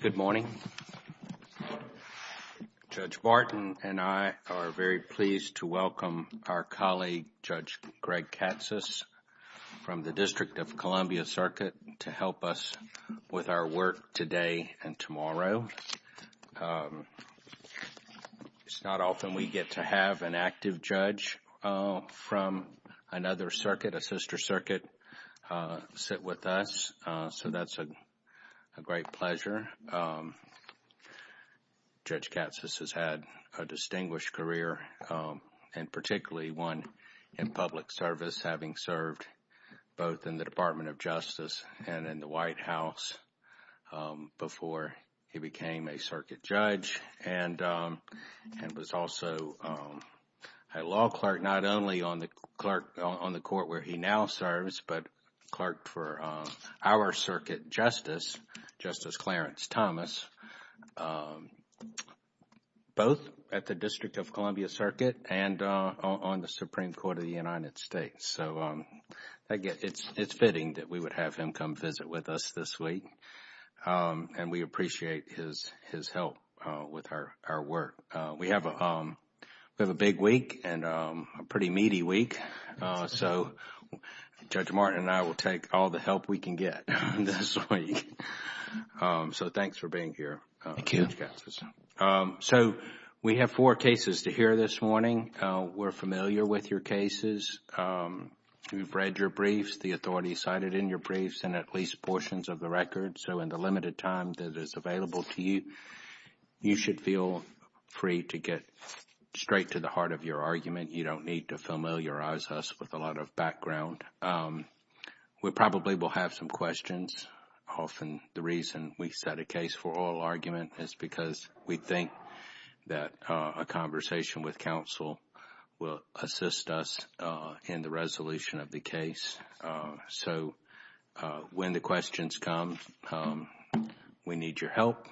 Good morning. Judge Barton and I are very pleased to welcome our colleague Judge Greg Katsas from the District of Columbia Circuit to help us with our work today and tomorrow. It's not often we get to have an active judge from another circuit, a sister circuit, sit with us, so that's a great pleasure. Judge Katsas has had a distinguished career, and particularly one in public service, having served both in the Department of Justice and in the White House before he became a circuit judge, and was also a law clerk not only on the court where he now serves, but clerked for our circuit justice, Justice Clarence Thomas, both at the District of Columbia Circuit and on the Supreme Court of the United States. So it's fitting that we would have him come visit with us this week, and we appreciate his help with our work. We have a big week and a pretty meaty week, so Judge Martin and I will take all the help we can get this week. So thanks for being here, Judge Katsas. So we have four cases to hear this morning. We're familiar with your cases. We've read your briefs, the authorities cited in your briefs, and at least portions of the record. So in the limited time that is available to you, you should feel free to get straight to the heart of your argument. You don't need to familiarize us with a lot of background. We probably will have some questions. Often the reason we set a case for oral argument is because we think that a conversation with counsel will assist us in the resolution of the case. So when the questions come, we need your help.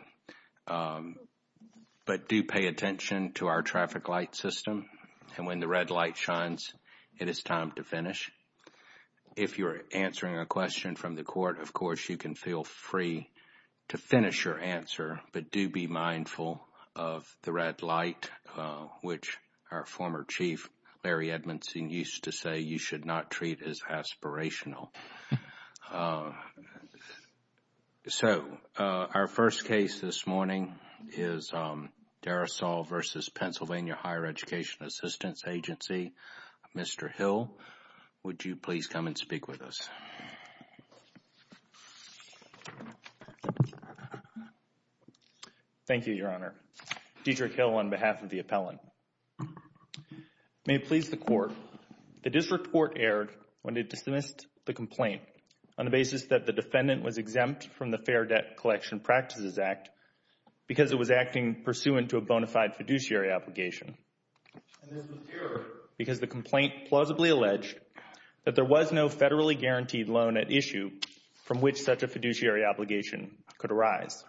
But do pay attention to our traffic light system, and when the red light shines, it is time to finish. If you're answering a question from the court, of course, you can feel free to finish your answer, but do be mindful of the red light, which our former chief, Larry Edmondson, used to say you should not treat as aspirational. So our first case this morning is Darasol v. Pennsylvania Higher Education Assistance Agency. Mr. Hill, would you please come and speak with us? Thank you, Your Honor. Deidre Hill on behalf of the appellant. May it please the Court. The district court erred when it dismissed the complaint on the basis that the defendant was exempt from the Fair Debt Collection Practices Act because it was acting pursuant to a bona fide fiduciary obligation. And this was due because the complaint plausibly alleged that there was no federally guaranteed loan at issue from which such a fiduciary obligation could arise.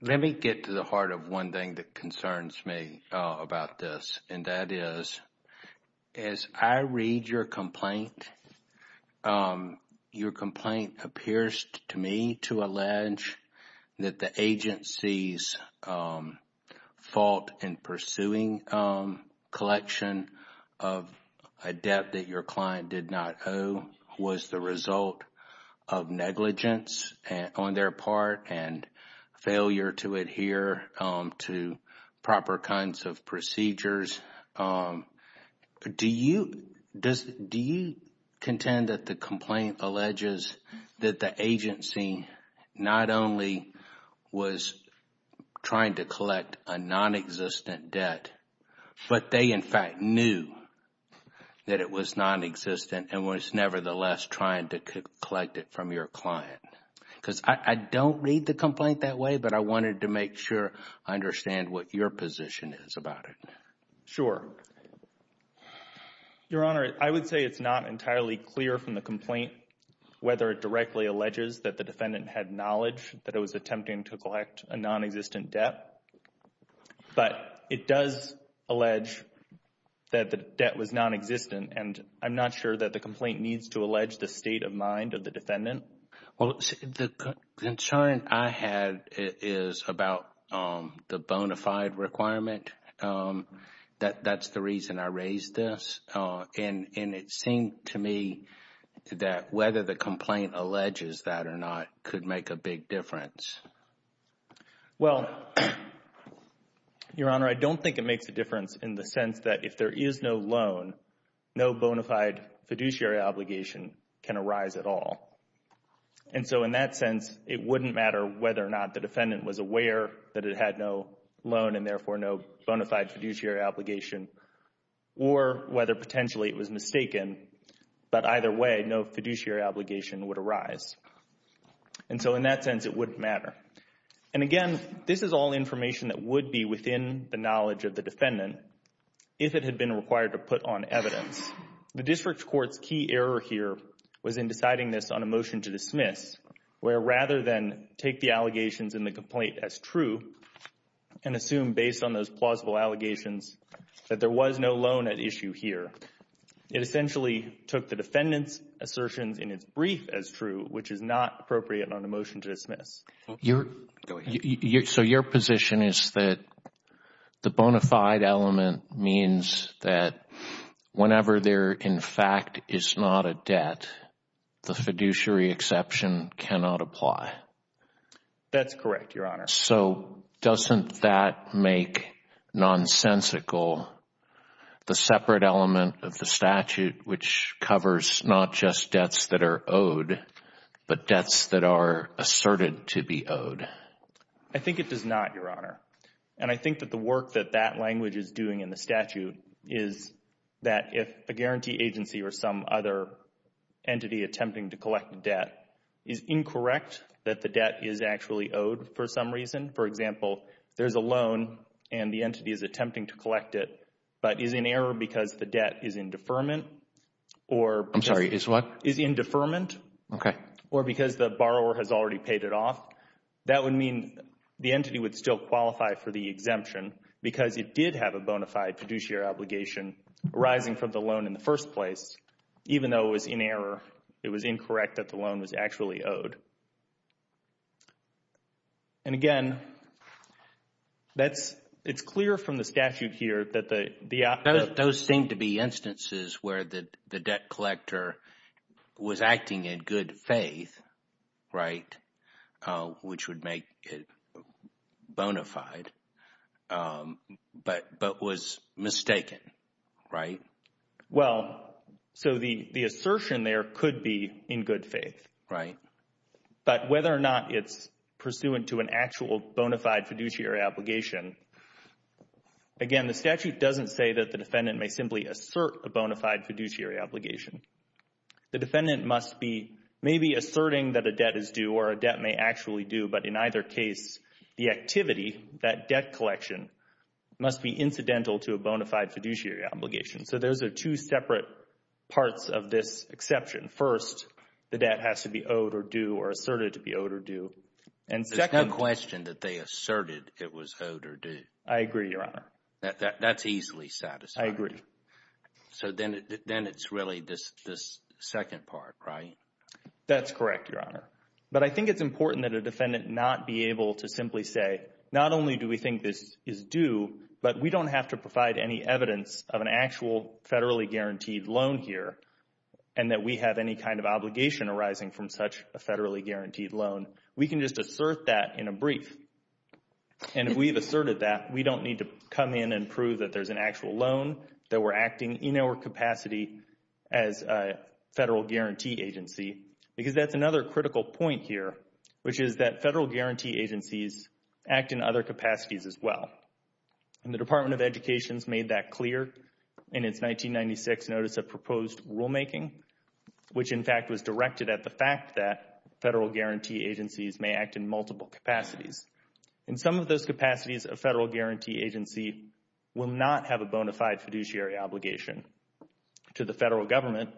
Let me get to the heart of one thing that concerns me about this, and that is, as I read your complaint, your complaint appears to me to allege that the agency's fault in the collection of a debt that your client did not owe was the result of negligence on their part and failure to adhere to proper kinds of procedures. Do you contend that the complaint alleges that the agency not only was trying to collect a nonexistent debt, but they, in fact, knew that it was nonexistent and was nevertheless trying to collect it from your client? Because I don't read the complaint that way, but I wanted to make sure I understand what your position is about it. Sure. Your Honor, I would say it's not entirely clear from the complaint whether it directly alleges that the defendant had knowledge that it was attempting to collect a nonexistent debt, but it does allege that the debt was nonexistent, and I'm not sure that the complaint needs to allege the state of mind of the defendant. Well, the concern I had is about the bona fide requirement. That's the reason I raised this. And it seemed to me that whether the complaint alleges that or not could make a big difference. Well, Your Honor, I don't think it makes a difference in the sense that if there is no loan, no bona fide fiduciary obligation can arise at all. And so in that sense, it wouldn't matter whether or not the defendant was aware that it had no loan and therefore no bona fide fiduciary obligation or whether potentially it was mistaken. But either way, no fiduciary obligation would arise. And so in that sense, it wouldn't matter. And again, this is all information that would be within the knowledge of the defendant if it had been required to put on evidence. The district court's key error here was in deciding this on a motion to dismiss, where rather than take the allegations in the complaint as true and assume based on those plausible allegations that there was no loan at issue here, it essentially took the defendant's assertions in its brief as true, which is not appropriate on a motion to dismiss. So your position is that the bona fide element means that whenever there, in fact, is not a debt, the fiduciary exception cannot apply. That's correct, Your Honor. So doesn't that make nonsensical the separate element of the statute which covers not just debts that are owed, but debts that are asserted to be owed? I think it does not, Your Honor. And I think that the work that that language is doing in the statute is that if a guarantee agency or some other entity attempting to collect a debt is incorrect, that the debt is actually owed for some reason, for example, there's a loan and the entity is attempting to collect it, but is in error because the debt is in deferment or because the borrower has already paid it off, that would mean the entity would still qualify for the exemption because it did have a bona fide fiduciary obligation arising from the loan in the first place, even though it was in error, it was incorrect that the loan was actually owed. And again, it's clear from the statute here that the Those seem to be instances where the debt collector was acting in good faith, right, which would make it bona fide, but was mistaken, right? Well, so the assertion there could be in good faith. Right. But whether or not it's pursuant to an actual bona fide fiduciary obligation, again, the statute doesn't say that the defendant may simply assert a bona fide fiduciary obligation. The defendant must be maybe asserting that a debt is due or a debt may actually do, but in either case, the activity, that debt collection must be incidental to a bona fide fiduciary obligation. So those are two separate parts of this exception. First, the debt has to be owed or due or asserted to be owed or due. And second, There's no question that they asserted it was owed or due. I agree, Your Honor. That's easily satisfied. I agree. So then it's really this second part, right? That's correct, Your Honor. But I think it's important that a defendant not be able to simply say, not only do we think this is due, but we don't have to provide any evidence of an actual federally guaranteed loan here and that we have any kind of obligation arising from such a federally guaranteed loan. We can just assert that in a brief. And if we have asserted that, we don't need to come in and prove that there's an actual loan that we're acting in our capacity as a federal guarantee agency, because that's another critical point here, which is that federal guarantee agencies act in other capacities as well. And the Department of Education's made that clear in its 1996 notice of proposed rulemaking, which in fact was directed at the fact that federal guarantee agencies may act in multiple capacities. In some of those capacities, a federal guarantee agency will not have a bona fide fiduciary obligation to the federal government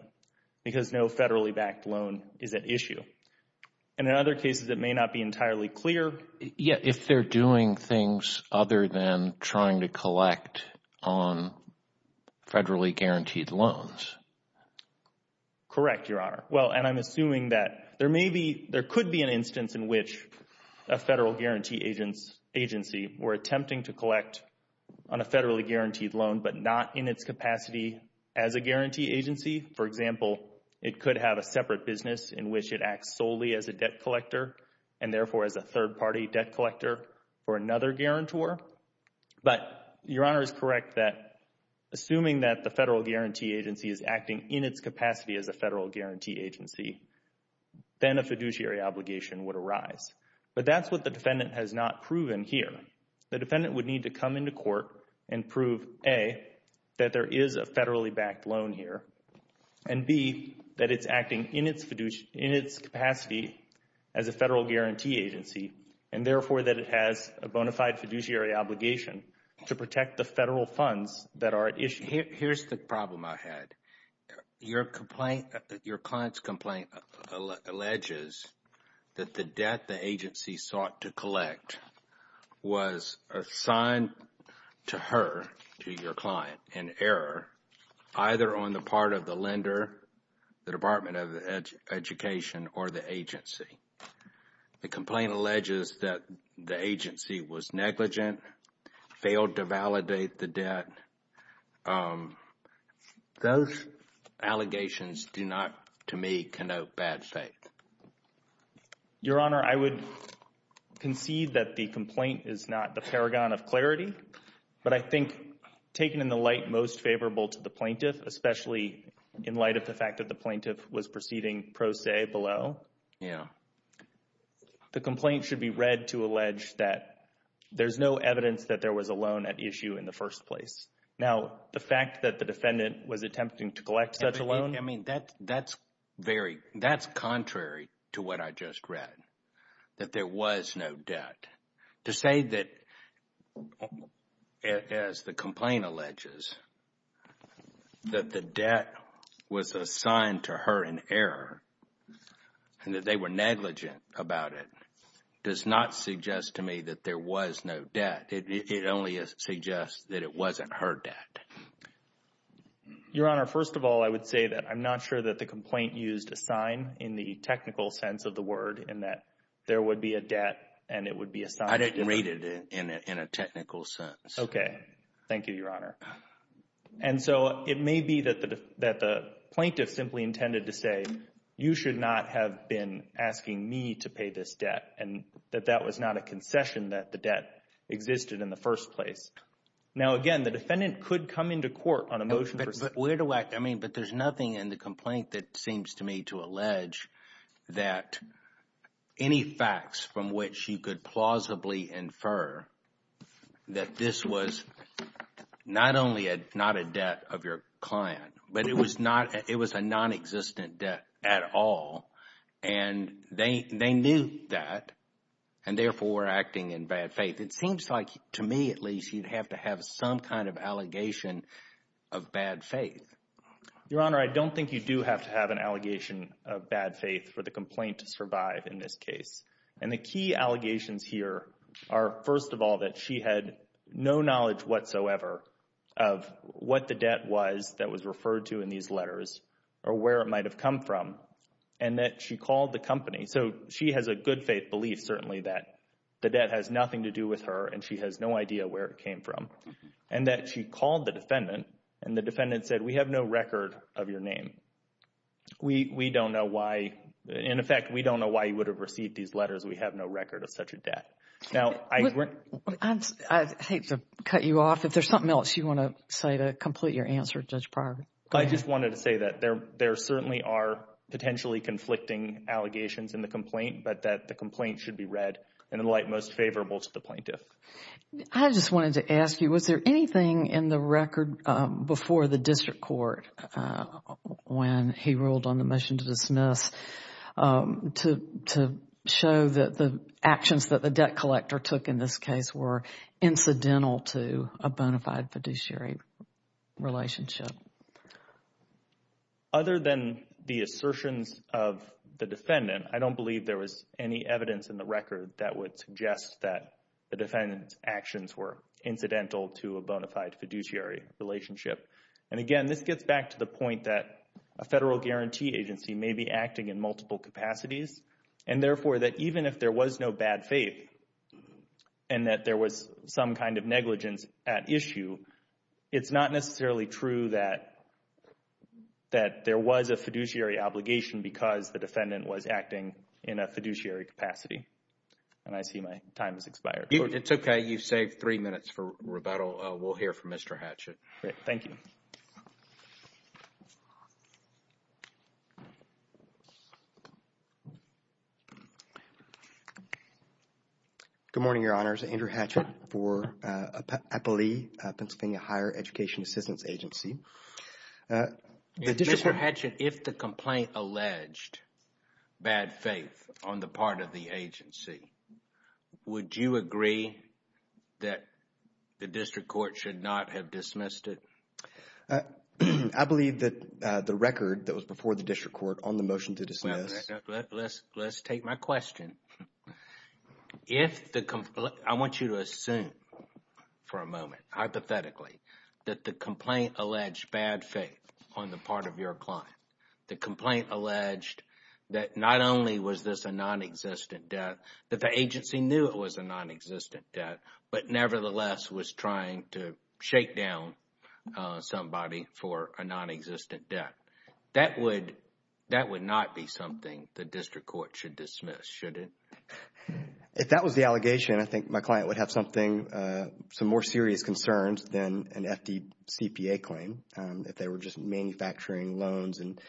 because no federally backed loan is at issue. And in other cases, it may not be entirely clear. Yeah, if they're doing things other than trying to collect on federally guaranteed loans. Correct, Your Honor. Well, and I'm assuming that there may be, there could be an instance in which a federal guarantee agency were attempting to collect on a federally guaranteed loan, but not in its capacity as a guarantee agency. For example, it could have a separate business in which it acts solely as a debt collector and therefore as a third party debt collector for another guarantor. But Your Honor is correct that assuming that the federal guarantee agency is acting in its capacity as a federal guarantee agency, then a fiduciary obligation would arise. But that's what the defendant has not proven here. The defendant would need to come into court and prove, A, that there is a federally backed loan here, and B, that it's acting in its capacity as a federal guarantee agency and therefore that it has a bona fide fiduciary obligation to protect the federal funds that are at issue. And here's the problem I had. Your complaint, your client's complaint alleges that the debt the agency sought to collect was assigned to her, to your client, in error either on the part of the lender, the Department of Education, or the agency. The complaint alleges that the agency was negligent, failed to validate the debt. Those allegations do not, to me, connote bad faith. Your Honor, I would concede that the complaint is not the paragon of clarity, but I think taken in the light most favorable to the plaintiff, especially in light of the fact that the plaintiff was proceeding pro se below, the complaint should be read to allege that there's no evidence that there was a loan at issue in the first place. Now, the fact that the defendant was attempting to collect such a loan... I mean, that's very, that's contrary to what I just read, that there was no debt. To say that, as the complaint alleges, that the debt was assigned to her in error, and that they were negligent about it, does not suggest to me that there was no debt. It only suggests that it wasn't her debt. Your Honor, first of all, I would say that I'm not sure that the complaint used a sign in the technical sense of the word, and that there would be a debt, and it would be assigned... I didn't read it in a technical sense. Okay. Thank you, Your Honor. And so, it may be that the plaintiff simply intended to say, you should not have been asking me to pay this debt, and that that was not a concession that the debt existed in the first place. Now, again, the defendant could come into court on a motion for... But where do I... I mean, but there's nothing in the complaint that seems to me to allege that any facts from which you could plausibly infer that this was not only not a debt of your client, but it was a non-existent debt at all, and they knew that, and therefore were acting in bad faith. It seems like, to me at least, you'd have to have some kind of allegation of bad faith. Your Honor, I don't think you do have to have an allegation of bad faith for the complaint to survive in this case. And the key allegations here are, first of all, that she had no knowledge whatsoever of what the debt was that was referred to in these letters, or where it might have come from, and that she called the company. So she has a good faith belief, certainly, that the debt has nothing to do with her, and she has no idea where it came from, and that she called the defendant, and the defendant said, we have no record of your name. We don't know why. In effect, we don't know why you would have received these letters. We have no record of such a debt. Now, I... I hate to cut you off. If there's something else you want to say to complete your answer, Judge Pryor, go ahead. I just wanted to say that there certainly are potentially conflicting allegations in the complaint, but that the complaint should be read in the light most favorable to the plaintiff. I just wanted to ask you, was there anything in the record before the district court, when he ruled on the motion to dismiss, to show that the actions that the debt collector took in this case were incidental to a bona fide fiduciary relationship? Other than the assertions of the defendant, I don't believe there was any evidence in the record that would suggest that the defendant's actions were incidental to a bona fide fiduciary relationship. And again, this gets back to the point that a federal guarantee agency may be acting in multiple capacities, and therefore, that even if there was no bad faith, and that there was some kind of negligence at issue, it's not necessarily true that there was a fiduciary obligation because the defendant was acting in a fiduciary capacity. And I see my time has expired. It's okay. You've saved three minutes for rebuttal. We'll hear from Mr. Hatchett. Thank you. Good morning, Your Honors. Andrew Hatchett for APALE, Pennsylvania Higher Education Assistance Agency. Mr. Hatchett, if the complaint alleged bad faith on the part of the agency, would you agree that the district court should not have dismissed it? I believe that the record that was before the district court on the motion to dismiss... Let's take my question. I want you to assume for a moment, hypothetically, that the complaint alleged bad faith on the part of your client. The complaint alleged that not only was this a nonexistent death, that the agency knew it was a nonexistent death, but nevertheless was trying to shake down somebody for a nonexistent death. That would not be something the district court should dismiss, should it? If that was the allegation, I think my client would have some more serious concerns than an FDCPA claim, if they were just manufacturing loans and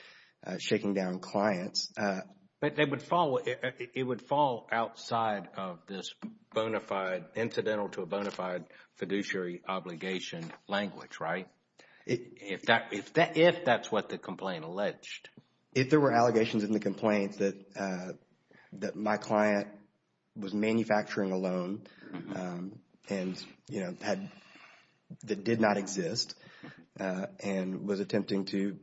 shaking down clients. But it would fall outside of this incidental to a bona fide fiduciary obligation language, right? If that's what the complaint alleged. If there were allegations in the complaint that my client was manufacturing a loan that that did not exist and was attempting to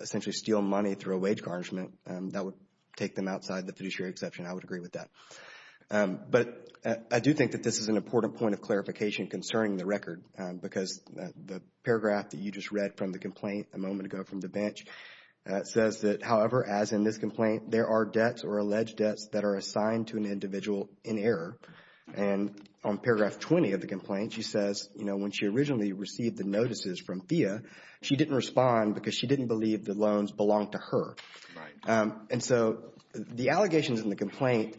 essentially steal money through a wage garnishment, that would take them outside the fiduciary exception. I would agree with that. But I do think that this is an important point of clarification concerning the record. Because the paragraph that you just read from the complaint a moment ago from the bench says that, however, as in this complaint, there are debts or alleged debts that are assigned to an individual in error. And on paragraph 20 of the complaint, she says, you know, when she originally received the notices from FIIA, she didn't respond because she didn't believe the loans belonged to her. Right. And so the allegations in the complaint,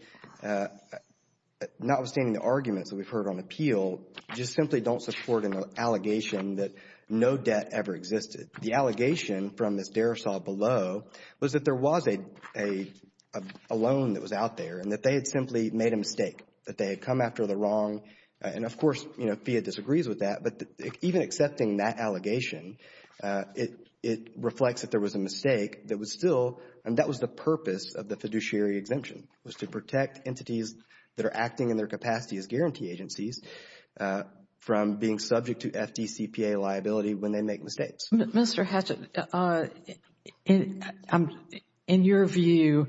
notwithstanding the arguments that we've heard on appeal, just simply don't support an allegation that no debt ever existed. The allegation from Ms. Derisaw below was that there was a loan that was out there and that they had simply made a mistake, that they had come after the wrong. And of course, you know, FIIA disagrees with that. But even accepting that allegation, it reflects that there was a mistake that was still, and that was the purpose of the fiduciary exemption, was to protect entities that are acting in their capacity as guarantee agencies from being subject to FDCPA liability when they make mistakes. Mr. Hatchett, in your view,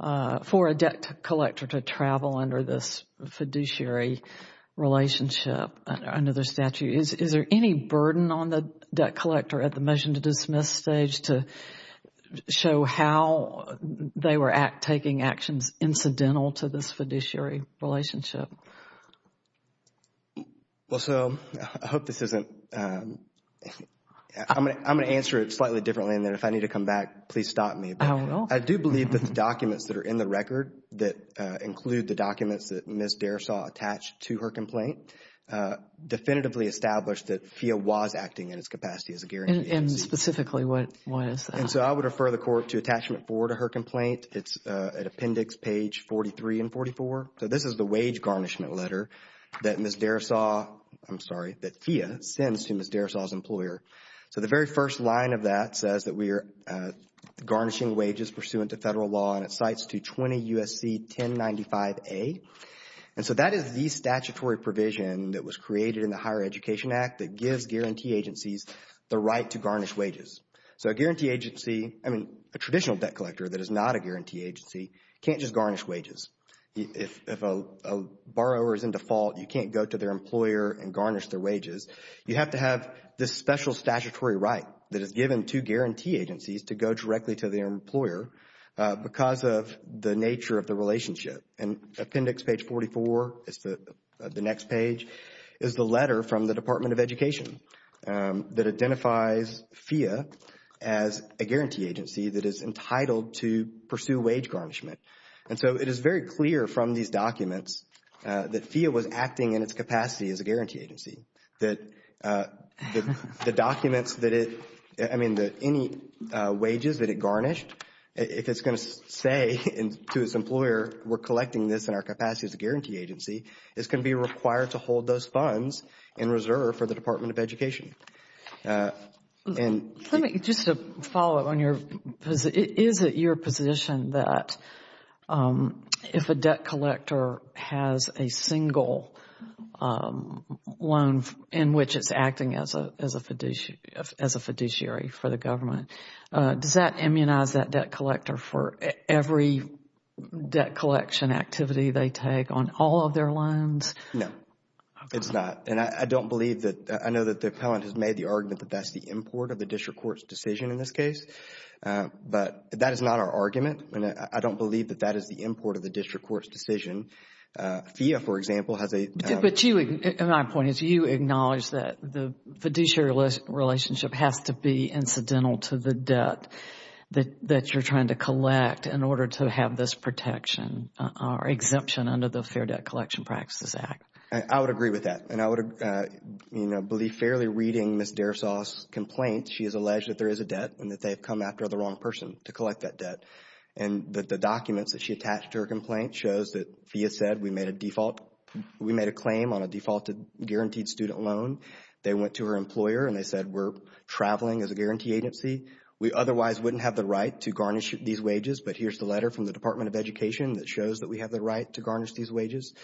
for a debt collector to travel under this fiduciary relationship under the statute, is there any burden on the debt collector at the motion to dismiss stage to show how they were taking actions incidental to this fiduciary relationship? Well, so I hope this isn't, I'm going to answer it slightly differently and then if I need to come back, please stop me. I don't know. I do believe that the documents that are in the record that include the documents that Ms. Derisaw attached to her complaint definitively established that FIIA was acting in its capacity as a guarantee agency. And specifically, what is that? And so I would refer the court to attachment four to her complaint. It's at appendix page 43 and 44. So this is the wage garnishment letter that Ms. Derisaw, I'm sorry, that FIIA sends to Ms. Derisaw's employer. So the very first line of that says that we are garnishing wages pursuant to federal law and it cites to 20 U.S.C. 1095A. And so that is the statutory provision that was created in the Higher Education Act that gives guarantee agencies the right to garnish wages. So a guarantee agency, I mean, a traditional debt collector that is not a guarantee agency can't just garnish wages. If a borrower is in default, you can't go to their employer and garnish their wages. You have to have this special statutory right that is given to guarantee agencies to go directly to their employer because of the nature of the relationship. And appendix page 44, the next page, is the letter from the Department of Education that And so it is very clear from these documents that FIIA was acting in its capacity as a guarantee agency, that the documents that it, I mean, any wages that it garnished, if it's going to say to its employer, we're collecting this in our capacity as a guarantee agency, it's going to be required to hold those funds in reserve for the Department of Education. Let me just follow up on your, is it your position that if a debt collector has a single loan in which it's acting as a fiduciary for the government, does that immunize that debt collector for every debt collection activity they take on all of their loans? No. It's not. And I don't believe that, I know that the appellant has made the argument that that's the import of the district court's decision in this case. But that is not our argument and I don't believe that that is the import of the district court's decision. FIIA, for example, has a But you, my point is you acknowledge that the fiduciary relationship has to be incidental to the debt that you're trying to collect in order to have this protection or exemption under the Fair Debt Collection Practices Act. I would agree with that. And I would, you know, believe fairly reading Ms. Dersaw's complaint, she has alleged that there is a debt and that they've come after the wrong person to collect that debt. And that the documents that she attached to her complaint shows that FIIA said we made a default, we made a claim on a defaulted guaranteed student loan. They went to her employer and they said we're traveling as a guarantee agency. We otherwise wouldn't have the right to garnish these wages. But here's the letter from the Department of Education that shows that we have the right to garnish these wages.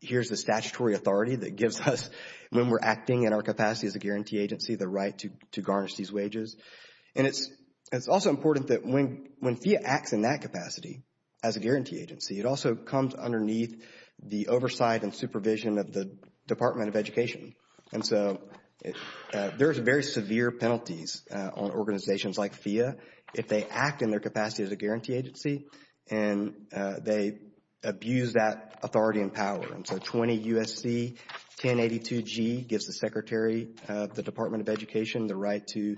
Here's the statutory authority that gives us, when we're acting in our capacity as a guarantee agency, the right to garnish these wages. And it's also important that when FIIA acts in that capacity as a guarantee agency, it also comes underneath the oversight and supervision of the Department of Education. And so there's very severe penalties on organizations like FIIA if they act in their capacity as a guarantee agency. And they abuse that authority and power. And so 20 U.S.C. 1082G gives the Secretary of the Department of Education the right to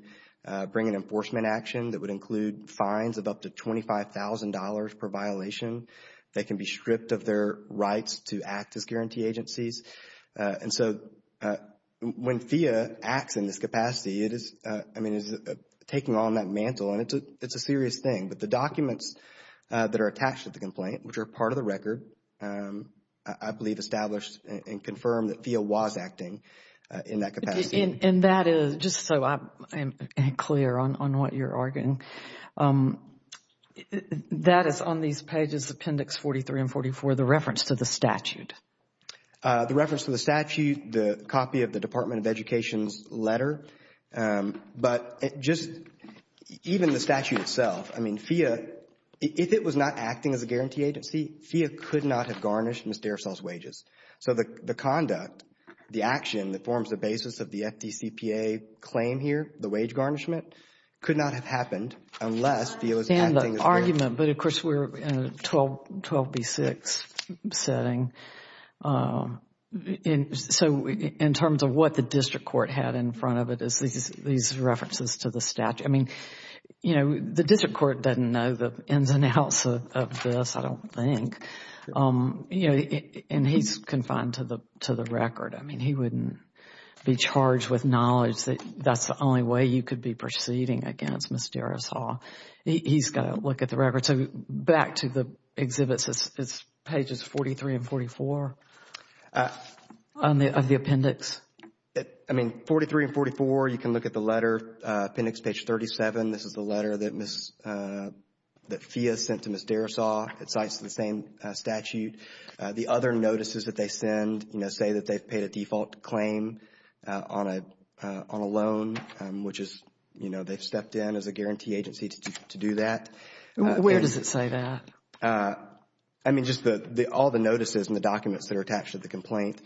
bring an enforcement action that would include fines of up to $25,000 per violation. They can be stripped of their rights to act as guarantee agencies. And so when FIIA acts in this capacity, it is, I mean, it's taking on that mantle and it's a serious thing. But the documents that are attached to the complaint, which are part of the record, I believe established and confirmed that FIIA was acting in that capacity. And that is, just so I'm clear on what you're arguing, that is on these pages, Appendix 43 and 44, the reference to the statute. The reference to the statute, the copy of the Department of Education's letter. But just even the statute itself, I mean, FIIA, if it was not acting as a guarantee agency, FIIA could not have garnished Ms. Derisole's wages. So the conduct, the action that forms the basis of the FDCPA claim here, the wage garnishment, could not have happened unless FIIA was acting as a guarantee agency. I understand the argument, but of course, we're in a 12B6 setting. And so in terms of what the district court had in front of it is these references to the statute. I mean, you know, the district court doesn't know the ins and outs of this, I don't think. And he's confined to the record. I mean, he wouldn't be charged with knowledge that that's the only way you could be proceeding against Ms. Derisole. He's got to look at the records. And so back to the exhibits, it's pages 43 and 44 of the appendix. I mean, 43 and 44, you can look at the letter, appendix page 37. This is the letter that Ms., that FIIA sent to Ms. Derisole. It cites the same statute. The other notices that they send, you know, say that they've paid a default claim on a loan, which is, you know, they've stepped in as a guarantee agency to do that. Where does it say that? I mean, just the, all the notices and the documents that are attached to the complaint.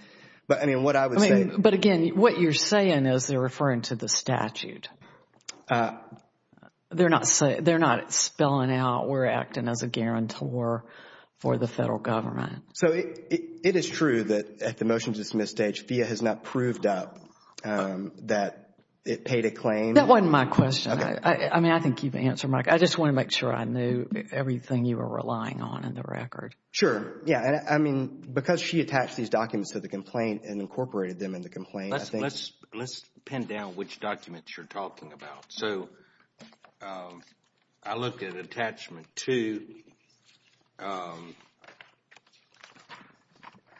But I mean, what I would say. I mean, but again, what you're saying is they're referring to the statute. They're not saying, they're not spelling out we're acting as a guarantor for the federal government. So it is true that at the motion to dismiss stage, FIIA has not proved up that it paid a claim. That wasn't my question. I mean, I think you've answered my question. I just want to make sure I knew everything you were relying on in the record. Sure. Yeah. I mean, because she attached these documents to the complaint and incorporated them in the complaint. Let's, let's, let's pin down which documents you're talking about. So I looked at attachment two,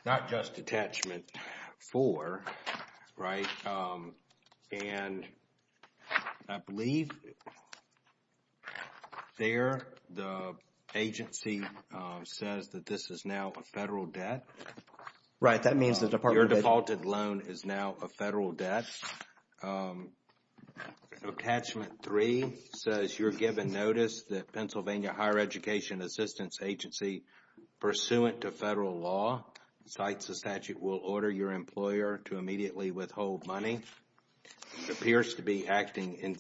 not just attachment four, right? And I believe there the agency says that this is now a federal debt. Right. That means the department. Your defaulted loan is now a federal debt. Attachment three says you're given notice that Pennsylvania Higher Education Assistance Agency pursuant to federal law, cites the statute, will order your employer to immediately withhold money. It appears to be acting in,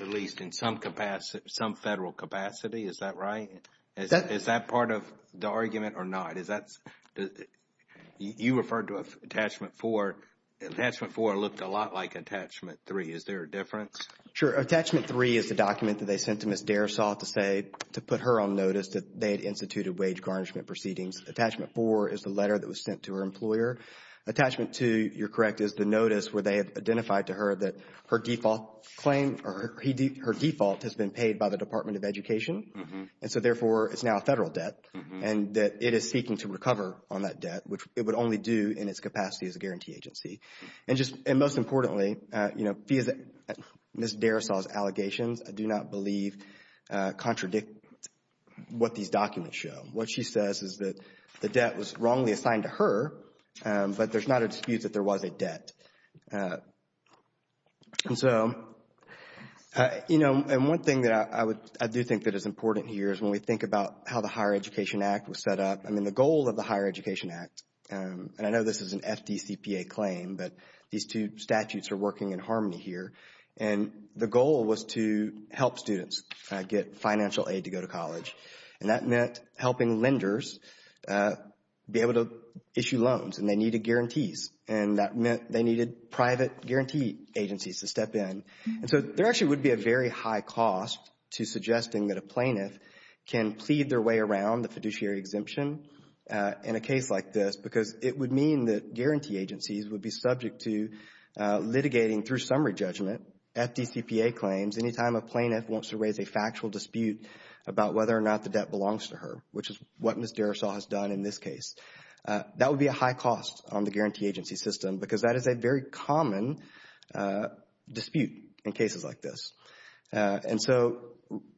at least in some capacity, some federal capacity. Is that right? Is that part of the argument or not? Is that, you referred to attachment four. Attachment four looked a lot like attachment three. Is there a difference? Sure. Attachment three is the document that they sent to Ms. Dersaw to say, to put her on notice that they had instituted wage garnishment proceedings. Attachment four is the letter that was sent to her employer. Attachment two, you're correct, is the notice where they have identified to her that her default claim or her default has been paid by the Department of Education. And so therefore it's now a federal debt and that it is seeking to recover on that debt, which it would only do in its capacity as a guarantee agency. And just, and most importantly, you know, Ms. Dersaw's allegations, I do not believe, contradict what these documents show. What she says is that the debt was wrongly assigned to her, but there's not a dispute that there was a debt. And so, you know, and one thing that I would, I do think that is important here is when we think about how the Higher Education Act was set up, I mean, the goal of the Higher Education Act, and I know this is an FDCPA claim, but these two statutes are working in harmony here, and the goal was to help students get financial aid to go to college. And that meant helping lenders be able to issue loans, and they needed guarantees. And that meant they needed private guarantee agencies to step in. And so there actually would be a very high cost to suggesting that a plaintiff can plead their way around the fiduciary exemption in a case like this, because it would mean that guarantee agencies would be subject to litigating through summary judgment, FDCPA claims, anytime a plaintiff wants to raise a factual dispute about whether or not the debt belongs to her, which is what Ms. Derisaw has done in this case, that would be a high cost on the guarantee agency system, because that is a very common dispute in cases like this. And so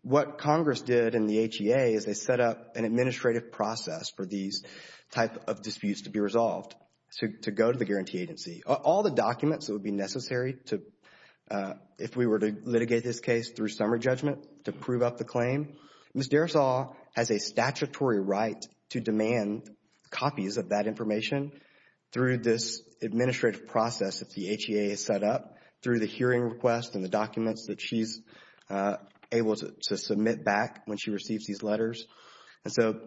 what Congress did in the HEA is they set up an administrative process for these type of disputes to be resolved, to go to the guarantee agency. All the documents that would be necessary to, if we were to litigate this case through summary judgment to prove up the claim, Ms. Derisaw has a statutory right to demand copies of that information through this administrative process that the HEA has set up, through the hearing request and the documents that she's able to submit back when she receives these letters. And so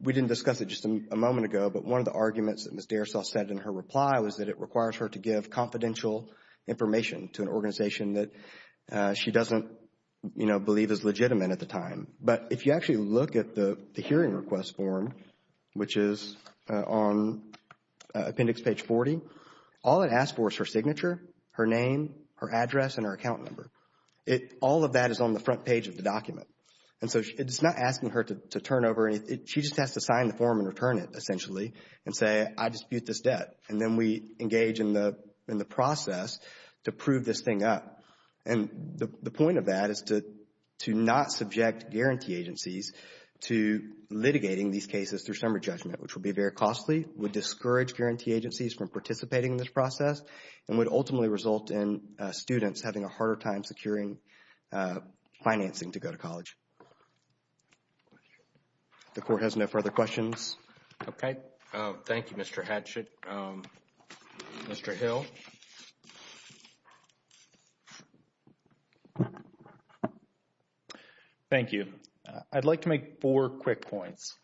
we didn't discuss it just a moment ago, but one of the arguments that Ms. Derisaw said in her reply was that it requires her to give confidential information to an organization that she doesn't, you know, believe is legitimate at the time. But if you actually look at the hearing request form, which is on appendix page 40, all it asks for is her signature, her name, her address, and her account number. All of that is on the front page of the document. And so it's not asking her to turn over any, she just has to sign the form and return it as debt. And then we engage in the process to prove this thing up. And the point of that is to not subject guarantee agencies to litigating these cases through summary judgment, which would be very costly, would discourage guarantee agencies from participating in this process, and would ultimately result in students having a harder time securing financing to go to college. The Court has no further questions. Okay. Thank you, Mr. Hatchett. Mr. Hill? Thank you. I'd like to make four quick points.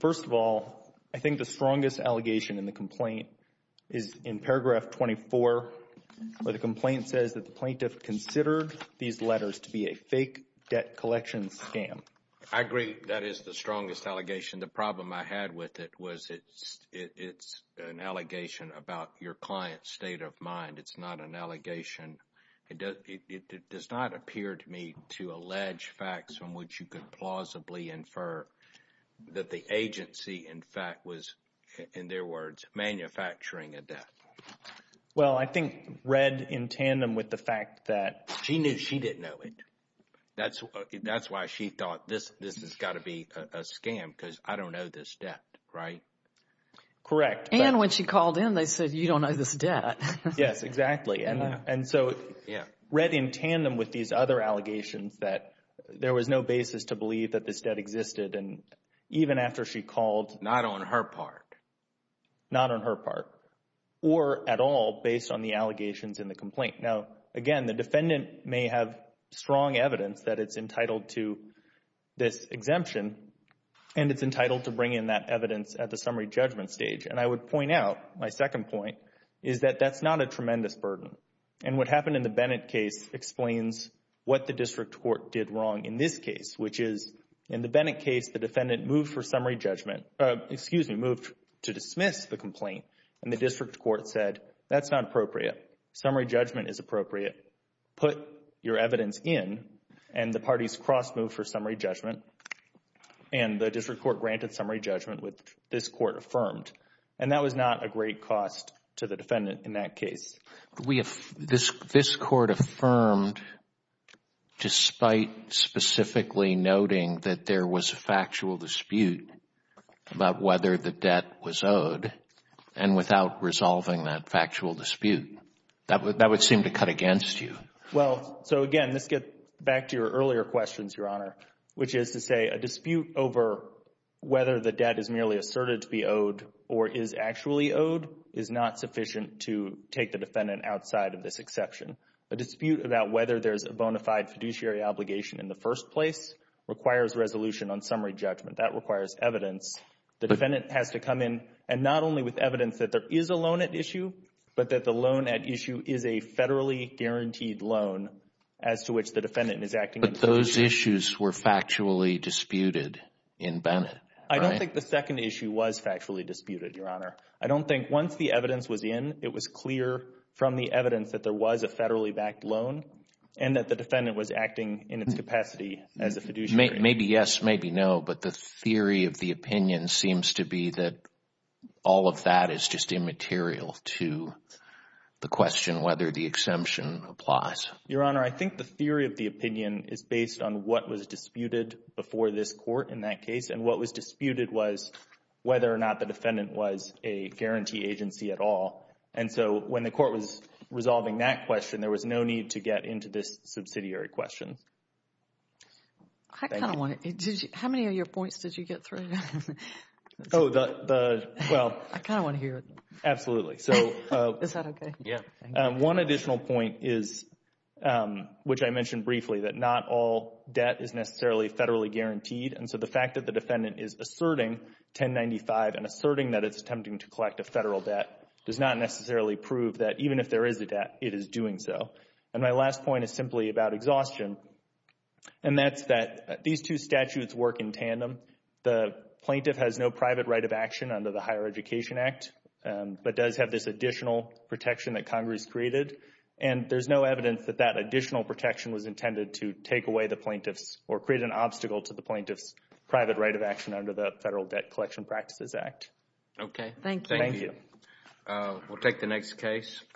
First of all, I think the strongest allegation in the complaint is in paragraph 24 where the complaint says that the plaintiff considered these letters to be a fake debt collection scam. I agree. That is the strongest allegation. The problem I had with it was it's an allegation about your client's state of mind. It's not an allegation. It does not appear to me to allege facts from which you could plausibly infer that the agency, in fact, was, in their words, manufacturing a debt. Well, I think read in tandem with the fact that she knew she didn't know it. That's why she thought this has got to be a scam because I don't know this debt, right? Correct. And when she called in, they said, you don't know this debt. Yes, exactly. And so read in tandem with these other allegations that there was no basis to believe that this debt existed. And even after she called. Not on her part. Not on her part, or at all, based on the allegations in the complaint. Now, again, the defendant may have strong evidence that it's entitled to this exemption and it's entitled to bring in that evidence at the summary judgment stage. And I would point out, my second point, is that that's not a tremendous burden. And what happened in the Bennett case explains what the district court did wrong in this case, which is in the Bennett case, the defendant moved for summary judgment, excuse me, moved to dismiss the complaint and the district court said, that's not appropriate. Summary judgment is appropriate. Put your evidence in and the parties cross-moved for summary judgment and the district court granted summary judgment, which this court affirmed. And that was not a great cost to the defendant in that case. This court affirmed despite specifically noting that there was a factual dispute about whether the debt was owed and without resolving that factual dispute. That would seem to cut against you. Well, so again, let's get back to your earlier questions, Your Honor, which is to say a dispute over whether the debt is merely asserted to be owed or is actually owed is not sufficient to take the defendant outside of this exception. A dispute about whether there's a bona fide fiduciary obligation in the first place requires resolution on summary judgment. That requires evidence. The defendant has to come in and not only with evidence that there is a loan at issue, but that the loan at issue is a federally guaranteed loan as to which the defendant is acting in fiduciary. But those issues were factually disputed in Bennett, right? I don't think the second issue was factually disputed, Your Honor. I don't think once the evidence was in, it was clear from the evidence that there was a federally backed loan and that the defendant was acting in its capacity as a fiduciary. Maybe yes, maybe no, but the theory of the opinion seems to be that all of that is just immaterial to the question whether the exemption applies. Your Honor, I think the theory of the opinion is based on what was disputed before this court in that case and what was disputed was whether or not the defendant was a guarantee agency at all. And so when the court was resolving that question, there was no need to get into this subsidiary question. Thank you. I kind of want to, did you, how many of your points did you get through? Oh, the, well. I kind of want to hear it. Absolutely. So. Is that okay? Yeah. One additional point is, which I mentioned briefly, that not all debt is necessarily federally guaranteed. And so the fact that the defendant is asserting 1095 and asserting that it's attempting to collect a federal debt does not necessarily prove that even if there is a debt, it is doing so. And my last point is simply about exhaustion. And that's that these two statutes work in tandem. The plaintiff has no private right of action under the Higher Education Act, but does have this additional protection that Congress created. And there's no evidence that that additional protection was intended to take away the plaintiff's or create an obstacle to the plaintiff's private right of action under the Federal Debt Collection Practices Act. Okay. Thank you. Thank you. We'll take the next case.